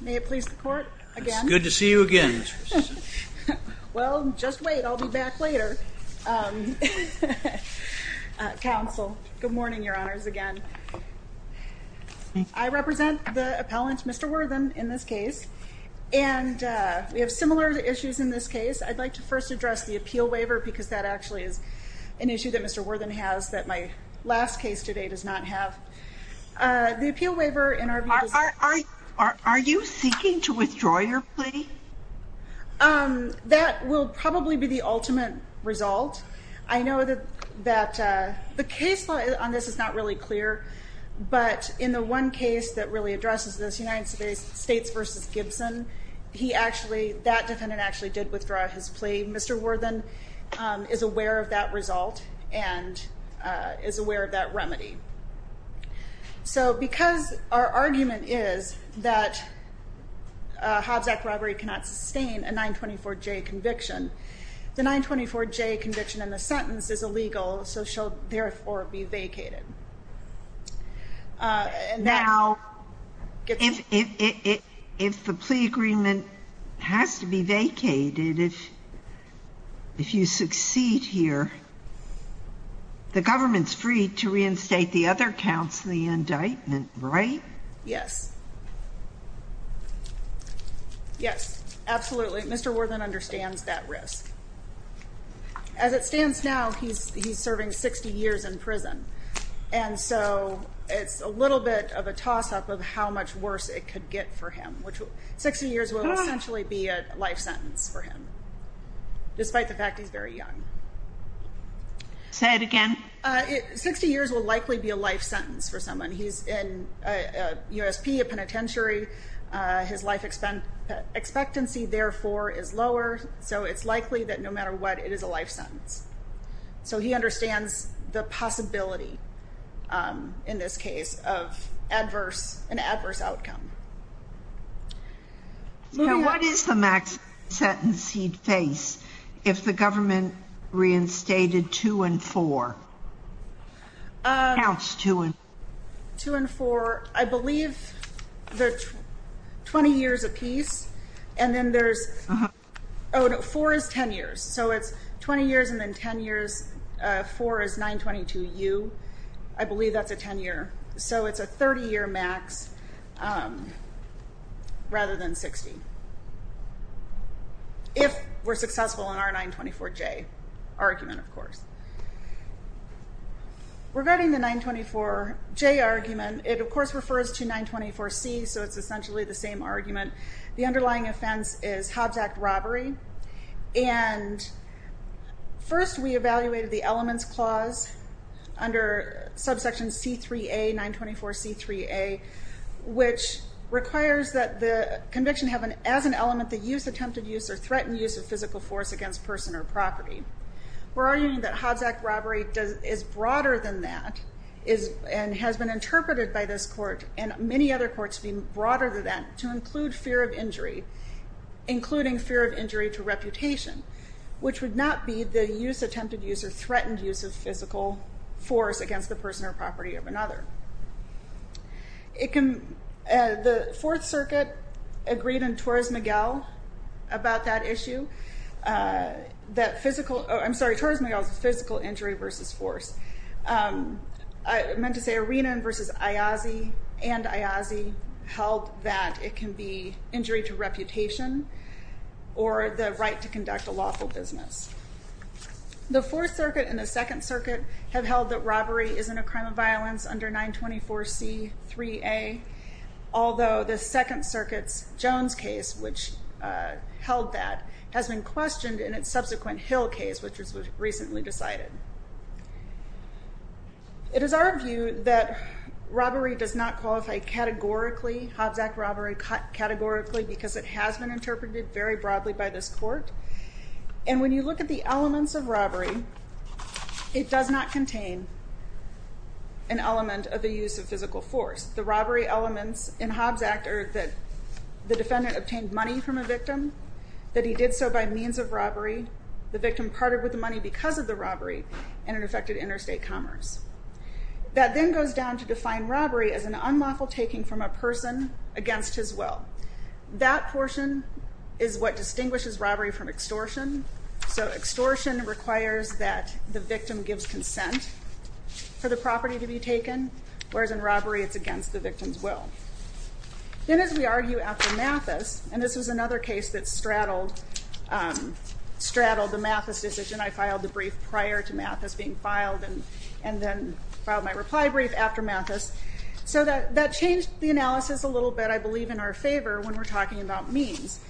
May it please the court again good to see you again. Well, just wait. I'll be back later Counsel good morning. Your honors again. I Represent the appellants. Mr. Worthen in this case and We have similar issues in this case I'd like to first address the appeal waiver because that actually is an issue that mr Worthen has that my last case today does not have The appeal waiver in our are you seeking to withdraw your plea That will probably be the ultimate result I know that that the case law on this is not really clear But in the one case that really addresses this United States versus Gibson He actually that defendant actually did withdraw his plea. Mr. Worthen is aware of that result and Is aware of that remedy so because our argument is that Hobbs Act robbery cannot sustain a 924 J conviction the 924 J conviction in the sentence is illegal So she'll therefore be vacated And now if if the plea agreement has to be vacated if If you succeed here The government's free to reinstate the other counts in the indictment, right? Yes Yes, absolutely, mr. Worthen understands that risk As it stands now, he's serving 60 years in prison And so it's a little bit of a toss-up of how much worse it could get for him Which 60 years will essentially be a life sentence for him Despite the fact he's very young Say it again 60 years will likely be a life sentence for someone. He's in a USP a penitentiary his life Expectancy therefore is lower. So it's likely that no matter what it is a life sentence So he understands the possibility In this case of adverse an adverse outcome What is the max sentence he'd face if the government Reinstated two and four Counts two and two and four, I believe the 20 years apiece and then there's oh Four is ten years. So it's 20 years and then 10 years Four is 922 U. I believe that's a 10-year. So it's a 30-year max Rather than 60 If we're successful in our 924 J argument, of course Regarding the 924 J argument it of course refers to 924 C so it's essentially the same argument the underlying offense is Hobbs Act robbery and First we evaluated the elements clause under subsection c3a 924 c3a Which requires that the conviction have an as an element the use attempted use or threatened use of physical force against person or property We're arguing that Hobbs Act robbery does is broader than that is And has been interpreted by this court and many other courts being broader than that to include fear of injury including fear of injury to reputation Which would not be the use attempted use or threatened use of physical force against the person or property of another It can the Fourth Circuit agreed in Torres Miguel about that issue That physical I'm sorry, Torres Miguel is a physical injury versus force I meant to say Arenan versus Ayazi and Ayazi held that it can be injury to reputation or the right to conduct a lawful business The Fourth Circuit and the Second Circuit have held that robbery isn't a crime of violence under 924 c3a although the Second Circuit's Jones case which Held that has been questioned in its subsequent Hill case, which was recently decided It is our view that Robbery does not qualify categorically Hobbs Act robbery cut categorically because it has been interpreted very broadly by this court and when you look at the elements of robbery it does not contain an Element of the use of physical force the robbery elements in Hobbs Act are that the defendant obtained money from a victim That he did so by means of robbery the victim parted with the money because of the robbery and an affected interstate commerce That then goes down to define robbery as an unlawful taking from a person against his will That portion is what distinguishes robbery from extortion so extortion requires that the victim gives consent For the property to be taken whereas in robbery. It's against the victim's will Then as we argue after Mathis, and this was another case that straddled Straddled the Mathis decision I filed the brief prior to Mathis being filed and and then filed my reply brief after Mathis So that that changed the analysis a little bit I believe in our favor when we're talking about means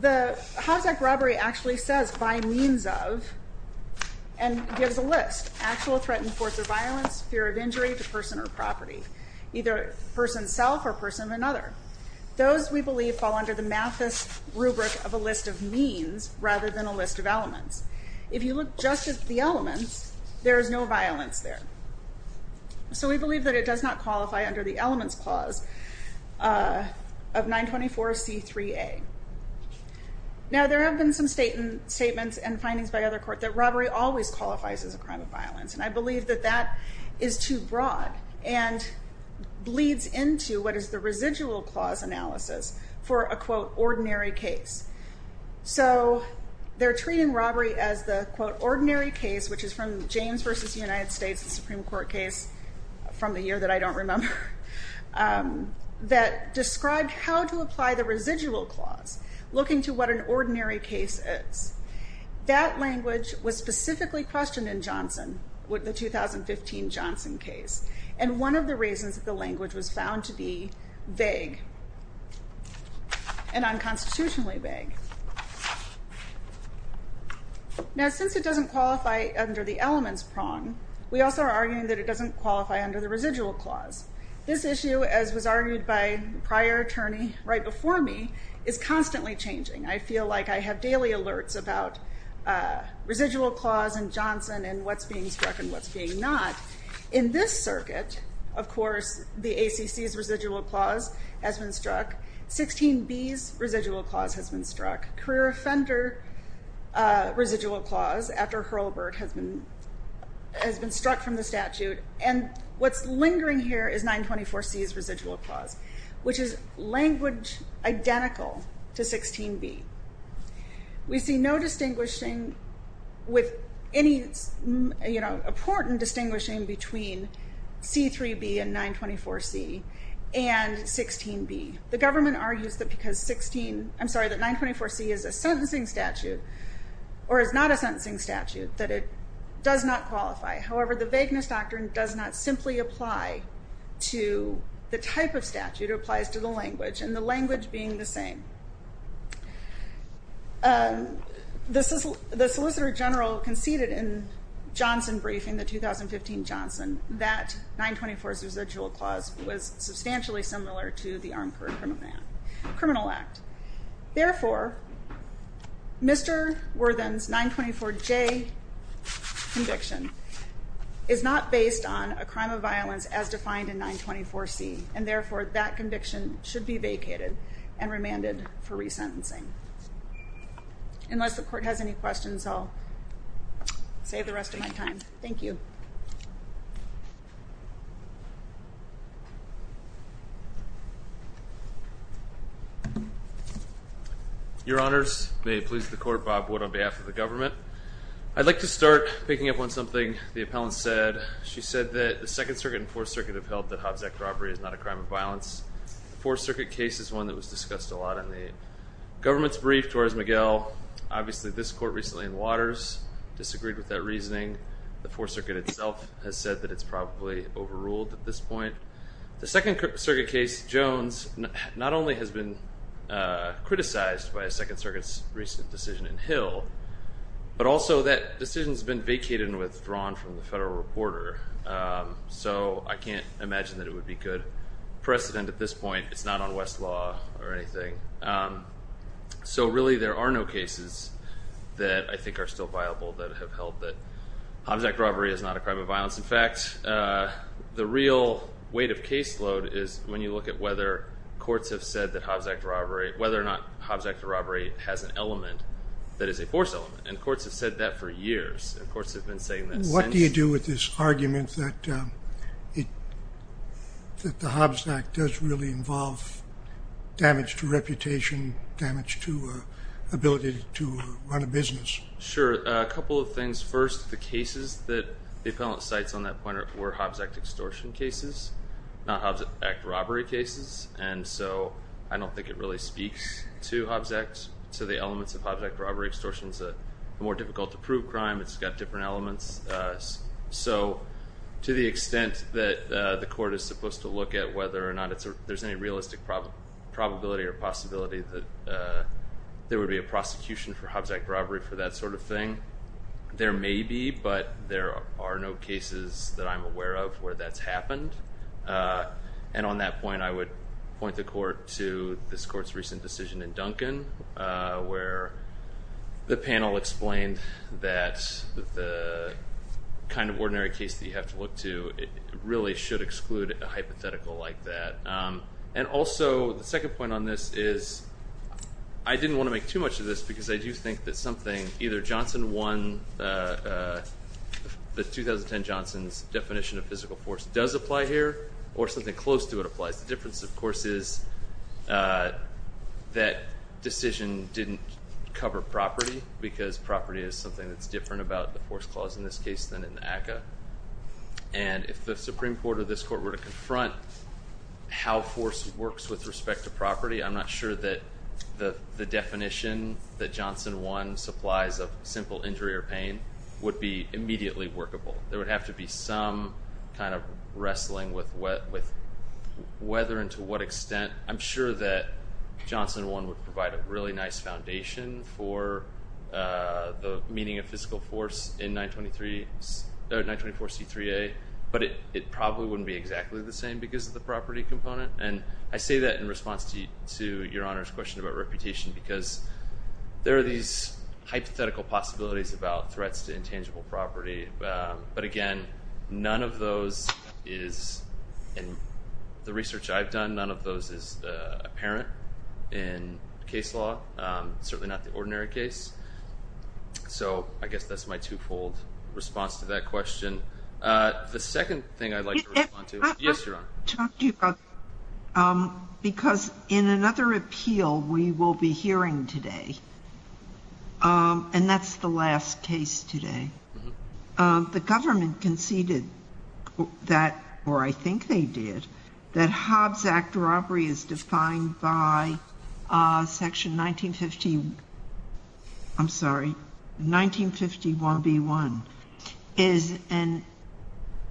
the Hobbs Act robbery actually says by means of and Gives a list actual threatened force of violence fear of injury to person or property either person self or person of another Those we believe fall under the Mathis rubric of a list of means rather than a list of elements If you look just at the elements, there is no violence there So we believe that it does not qualify under the Elements Clause of 924 c3a Now there have been some statements and findings by other court that robbery always qualifies as a crime of violence and I believe that that is too broad and Bleeds into what is the residual clause analysis for a quote ordinary case so They're treating robbery as the quote ordinary case, which is from James versus the United States the Supreme Court case From the year that I don't remember That described how to apply the residual clause looking to what an ordinary case is That language was specifically questioned in Johnson with the 2015 Johnson case and one of the reasons that the language was found to be vague And unconstitutionally vague Now since it doesn't qualify under the elements prong We also are arguing that it doesn't qualify under the residual clause This issue as was argued by prior attorney right before me is constantly changing. I feel like I have daily alerts about Residual clause and Johnson and what's being struck and what's being not in this circuit Of course, the ACC's residual clause has been struck 16 B's residual clause has been struck career offender residual clause after Hurlburt has been Has been struck from the statute and what's lingering here is 924 C's residual clause, which is language identical to 16 B We see no distinguishing with any you know important distinguishing between C3b and 924 C and 16 B. The government argues that because 16, I'm sorry that 924 C is a sentencing statute Or is not a sentencing statute that it does not qualify. However, the vagueness doctrine does not simply apply To the type of statute it applies to the language and the language being the same This is the Solicitor General conceded in Criminal Act therefore Mr. Worthen's 924 J conviction is not based on a crime of violence as defined in 924 C and therefore that conviction should be vacated and remanded for resentencing Unless the court has any questions, I'll Save the rest of my time. Thank you Your Honors may it please the court Bob Wood on behalf of the government I'd like to start picking up on something the appellant said She said that the Second Circuit and Fourth Circuit have held that Hobbs Act robbery is not a crime of violence Fourth Circuit case is one that was discussed a lot in the government's brief towards Miguel Obviously this court recently in waters disagreed with that reasoning the Fourth Circuit itself has said that it's probably overruled at this point The Second Circuit case Jones not only has been Criticized by a Second Circuit's recent decision in Hill But also that decision has been vacated and withdrawn from the federal reporter So I can't imagine that it would be good precedent at this point. It's not on West law or anything So really there are no cases That I think are still viable that have held that Hobbs Act robbery is not a crime of violence. In fact The real weight of caseload is when you look at whether Courts have said that Hobbs Act robbery whether or not Hobbs Act robbery has an element That is a force element and courts have said that for years and courts have been saying that what do you do with this? argument that it That the Hobbs Act does really involve damage to reputation damage to Ability to run a business. Sure a couple of things first the cases that the appellant cites on that point were Hobbs Act extortion cases Not Hobbs Act robbery cases And so I don't think it really speaks to Hobbs Act to the elements of Hobbs Act robbery extortion is a more difficult to prove crime It's got different elements So to the extent that the court is supposed to look at whether or not it's there's any realistic probability or possibility that There would be a prosecution for Hobbs Act robbery for that sort of thing There may be but there are no cases that I'm aware of where that's happened And on that point, I would point the court to this court's recent decision in Duncan where the panel explained that the Kind of ordinary case that you have to look to it really should exclude a hypothetical like that and also the second point on this is I didn't want to make too much of this because I do think that something either Johnson one The 2010 Johnson's definition of physical force does apply here or something close to it applies the difference of course is That decision didn't cover property because property is something that's different about the force clause in this case than in the ACCA and If the Supreme Court of this court were to confront How force works with respect to property I'm not sure that the the definition that Johnson one supplies of simple injury or pain would be immediately workable there would have to be some kind of wrestling with what with whether and to what extent I'm sure that Johnson one would provide a really nice foundation for the meaning of physical force in 923 924 c3a but it it probably wouldn't be exactly the same because of the property component and I say that in response to you to your honor's question about reputation because There are these hypothetical possibilities about threats to intangible property but again, none of those is and the research I've done none of those is apparent in case law Certainly not the ordinary case So, I guess that's my twofold response to that question the second thing I'd like to respond to yes Because in another appeal we will be hearing today And that's the last case today the government conceded that or I think they did that Hobbs Act robbery is defined by section 1915 I'm sorry 1951 b1 is an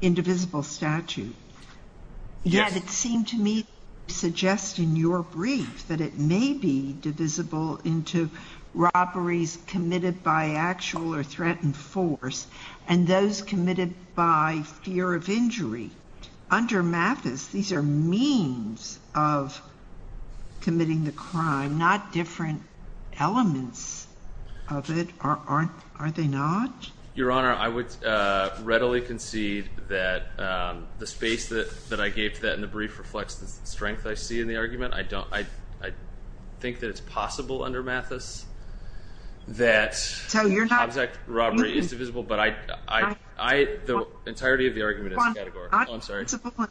indivisible statute Yes, it seemed to me Suggesting your brief that it may be divisible into Robberies committed by actual or threatened force and those committed by fear of injury under Mathis these are means of Committing the crime not different elements Of it aren't are they not your honor? I would readily concede that The space that that I gave that in the brief reflects the strength. I see in the argument. I don't I I Think that it's possible under Mathis that so you're not exact robbery is divisible, but I I I the entirety of the argument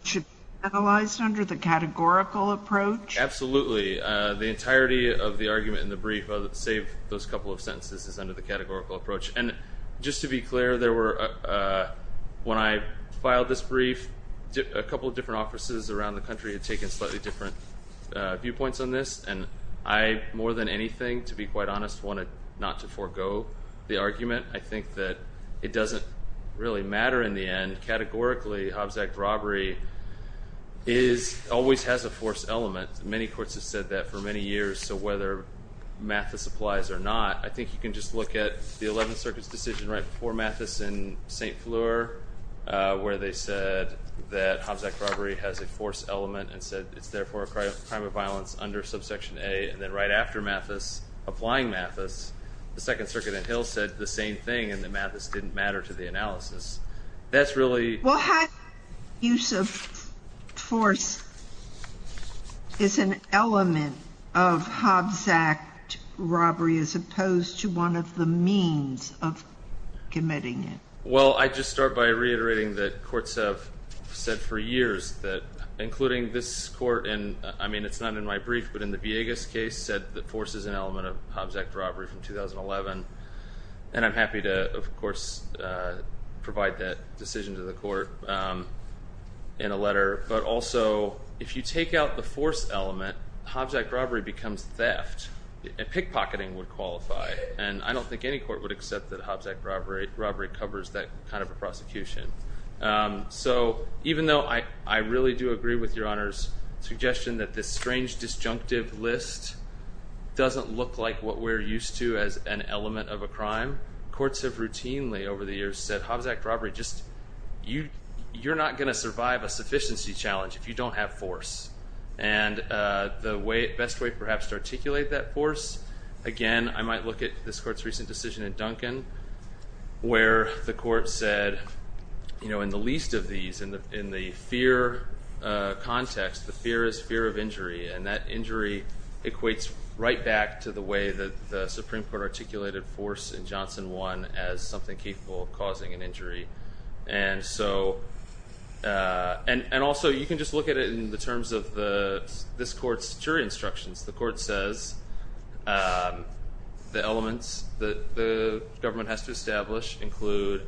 Should analyze under the categorical approach Absolutely the entirety of the argument in the brief of save those couple of sentences is under the categorical approach and just to be clear there were When I filed this brief a couple of different offices around the country had taken slightly different Viewpoints on this and I more than anything to be quite honest wanted not to forego the argument I think that it doesn't really matter in the end categorically Hobbs Act robbery is Always has a force element many courts have said that for many years. So whether Mathis applies or not. I think you can just look at the 11th Circuits decision right before Mathis in st. Fleur Where they said that Hobbs Act robbery has a force element and said it's therefore a crime of violence under subsection a and then right After Mathis applying Mathis the Second Circuit and Hill said the same thing and the Mathis didn't matter to the analysis That's really what? use of Force Is an element of Hobbs Act? robbery as opposed to one of the means of Committing it. Well, I just start by reiterating that courts have said for years that including this court And I mean, it's not in my brief But in the Viegas case said that force is an element of Hobbs Act robbery from 2011, and I'm happy to of course provide that decision to the court In a letter, but also if you take out the force element Hobbs Act robbery becomes theft Pickpocketing would qualify and I don't think any court would accept that Hobbs Act robbery robbery covers that kind of a prosecution So even though I I really do agree with your honor's suggestion that this strange disjunctive list Doesn't look like what we're used to as an element of a crime Courts have routinely over the years said Hobbs Act robbery just you you're not going to survive a sufficiency challenge if you don't have force and The way best way perhaps to articulate that force again. I might look at this court's recent decision in Duncan where the court said You know in the least of these in the in the fear Context the fear is fear of injury and that injury Equates right back to the way that the Supreme Court articulated force in Johnson one as something capable of causing an injury and so And and also you can just look at it in the terms of the this court's jury instructions the court says The elements that the government has to establish include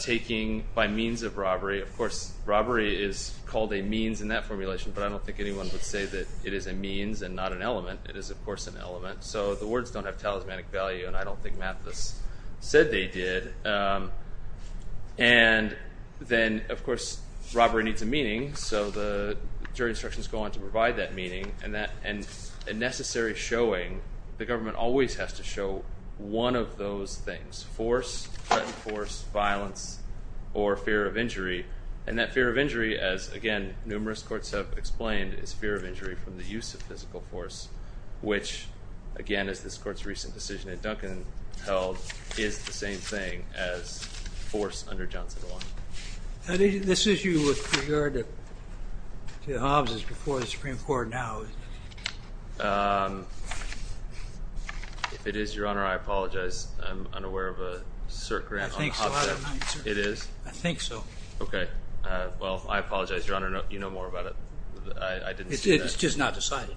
Taking by means of robbery of course robbery is called a means in that formulation But I don't think anyone would say that it is a means and not an element It is of course an element. So the words don't have talismanic value, and I don't think math this said they did and then of course robbery needs a meaning so the jury instructions go on to provide that meaning and that and Necessary showing the government always has to show one of those things force Violence or fear of injury and that fear of injury as again numerous courts have explained is fear of injury from the use of physical force Which again is this court's recent decision in Duncan held is the same thing as? force under Johnson This is you with regard to Two houses before the Supreme Court now If It is your honor, I apologize. I'm unaware of a cert grant. I think it is. I think so. Okay Well, I apologize your honor. No, you know more about it. I Did it's just not decided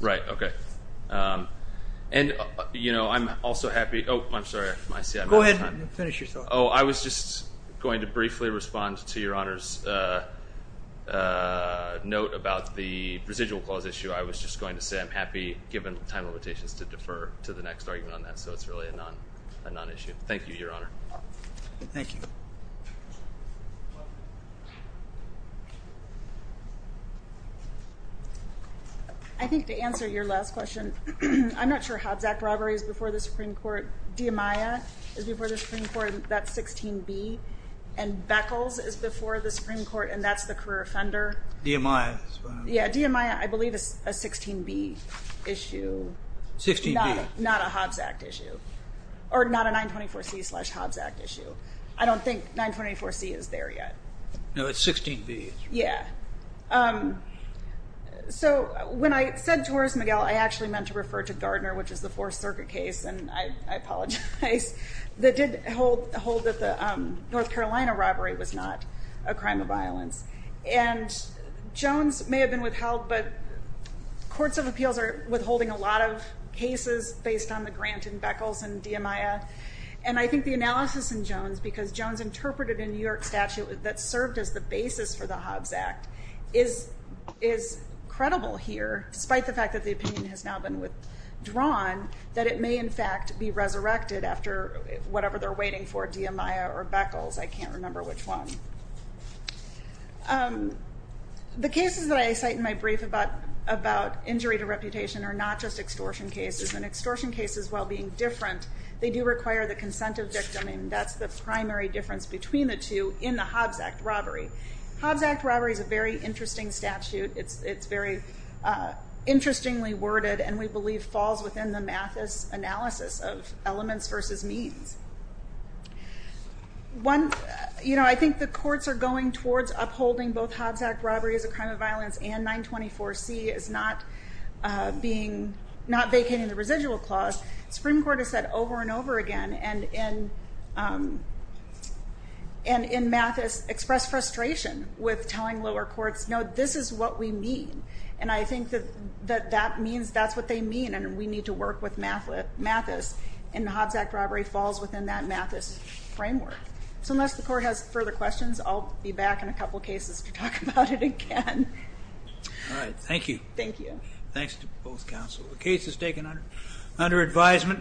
right? Okay And you know, I'm also happy. Oh, I'm sorry. I see I'm going to finish your thought Oh, I was just going to briefly respond to your honors A Note about the residual clause issue I was just going to say I'm happy given time limitations to defer to the next argument on that So it's really a non a non-issue. Thank you your honor Thank you I think to answer your last question I'm not sure Hobbs act robberies before the Supreme Court. De Amaya is before the Supreme Court. That's 16b and Beckles is before the Supreme Court and that's the career offender. De Amaya. Yeah, De Amaya. I believe is a 16b issue 16b not a Hobbs Act issue or not a 924 C slash Hobbs Act issue. I don't think 924 C is there yet No, it's 16b. Yeah So when I said to Horace Miguel, I actually meant to refer to Gardner which is the Fourth Circuit case and I apologize That did hold hold that the North Carolina robbery was not a crime of violence and Jones may have been withheld but Courts of Appeals are withholding a lot of cases based on the grant and Beckles and De Amaya and I think the analysis in Jones because Jones interpreted in New York statute that served as the basis for the Hobbs Act is Is credible here despite the fact that the opinion has now been withdrawn That it may in fact be resurrected after whatever they're waiting for De Amaya or Beckles I can't remember which one The cases that I cite in my brief about about injury to reputation are not just extortion cases and extortion cases while being different They do require the consent of victim and that's the primary difference between the two in the Hobbs Act robbery Hobbs Act robbery is a very interesting statute. It's it's very Interestingly worded and we believe falls within the Mathis analysis of elements versus means One, you know, I think the courts are going towards upholding both Hobbs Act robbery as a crime of violence and 924 C is not Being not vacating the residual clause. Supreme Court has said over and over again and in and In Mathis expressed frustration with telling lower courts No, this is what we mean and I think that that that means that's what they mean and we need to work with math with Mathis and the Hobbs Act robbery Falls within that Mathis framework. So unless the court has further questions, I'll be back in a couple cases to talk about it again All right. Thank you. Thank you. Thanks to both counsel. The case is taken under under advisement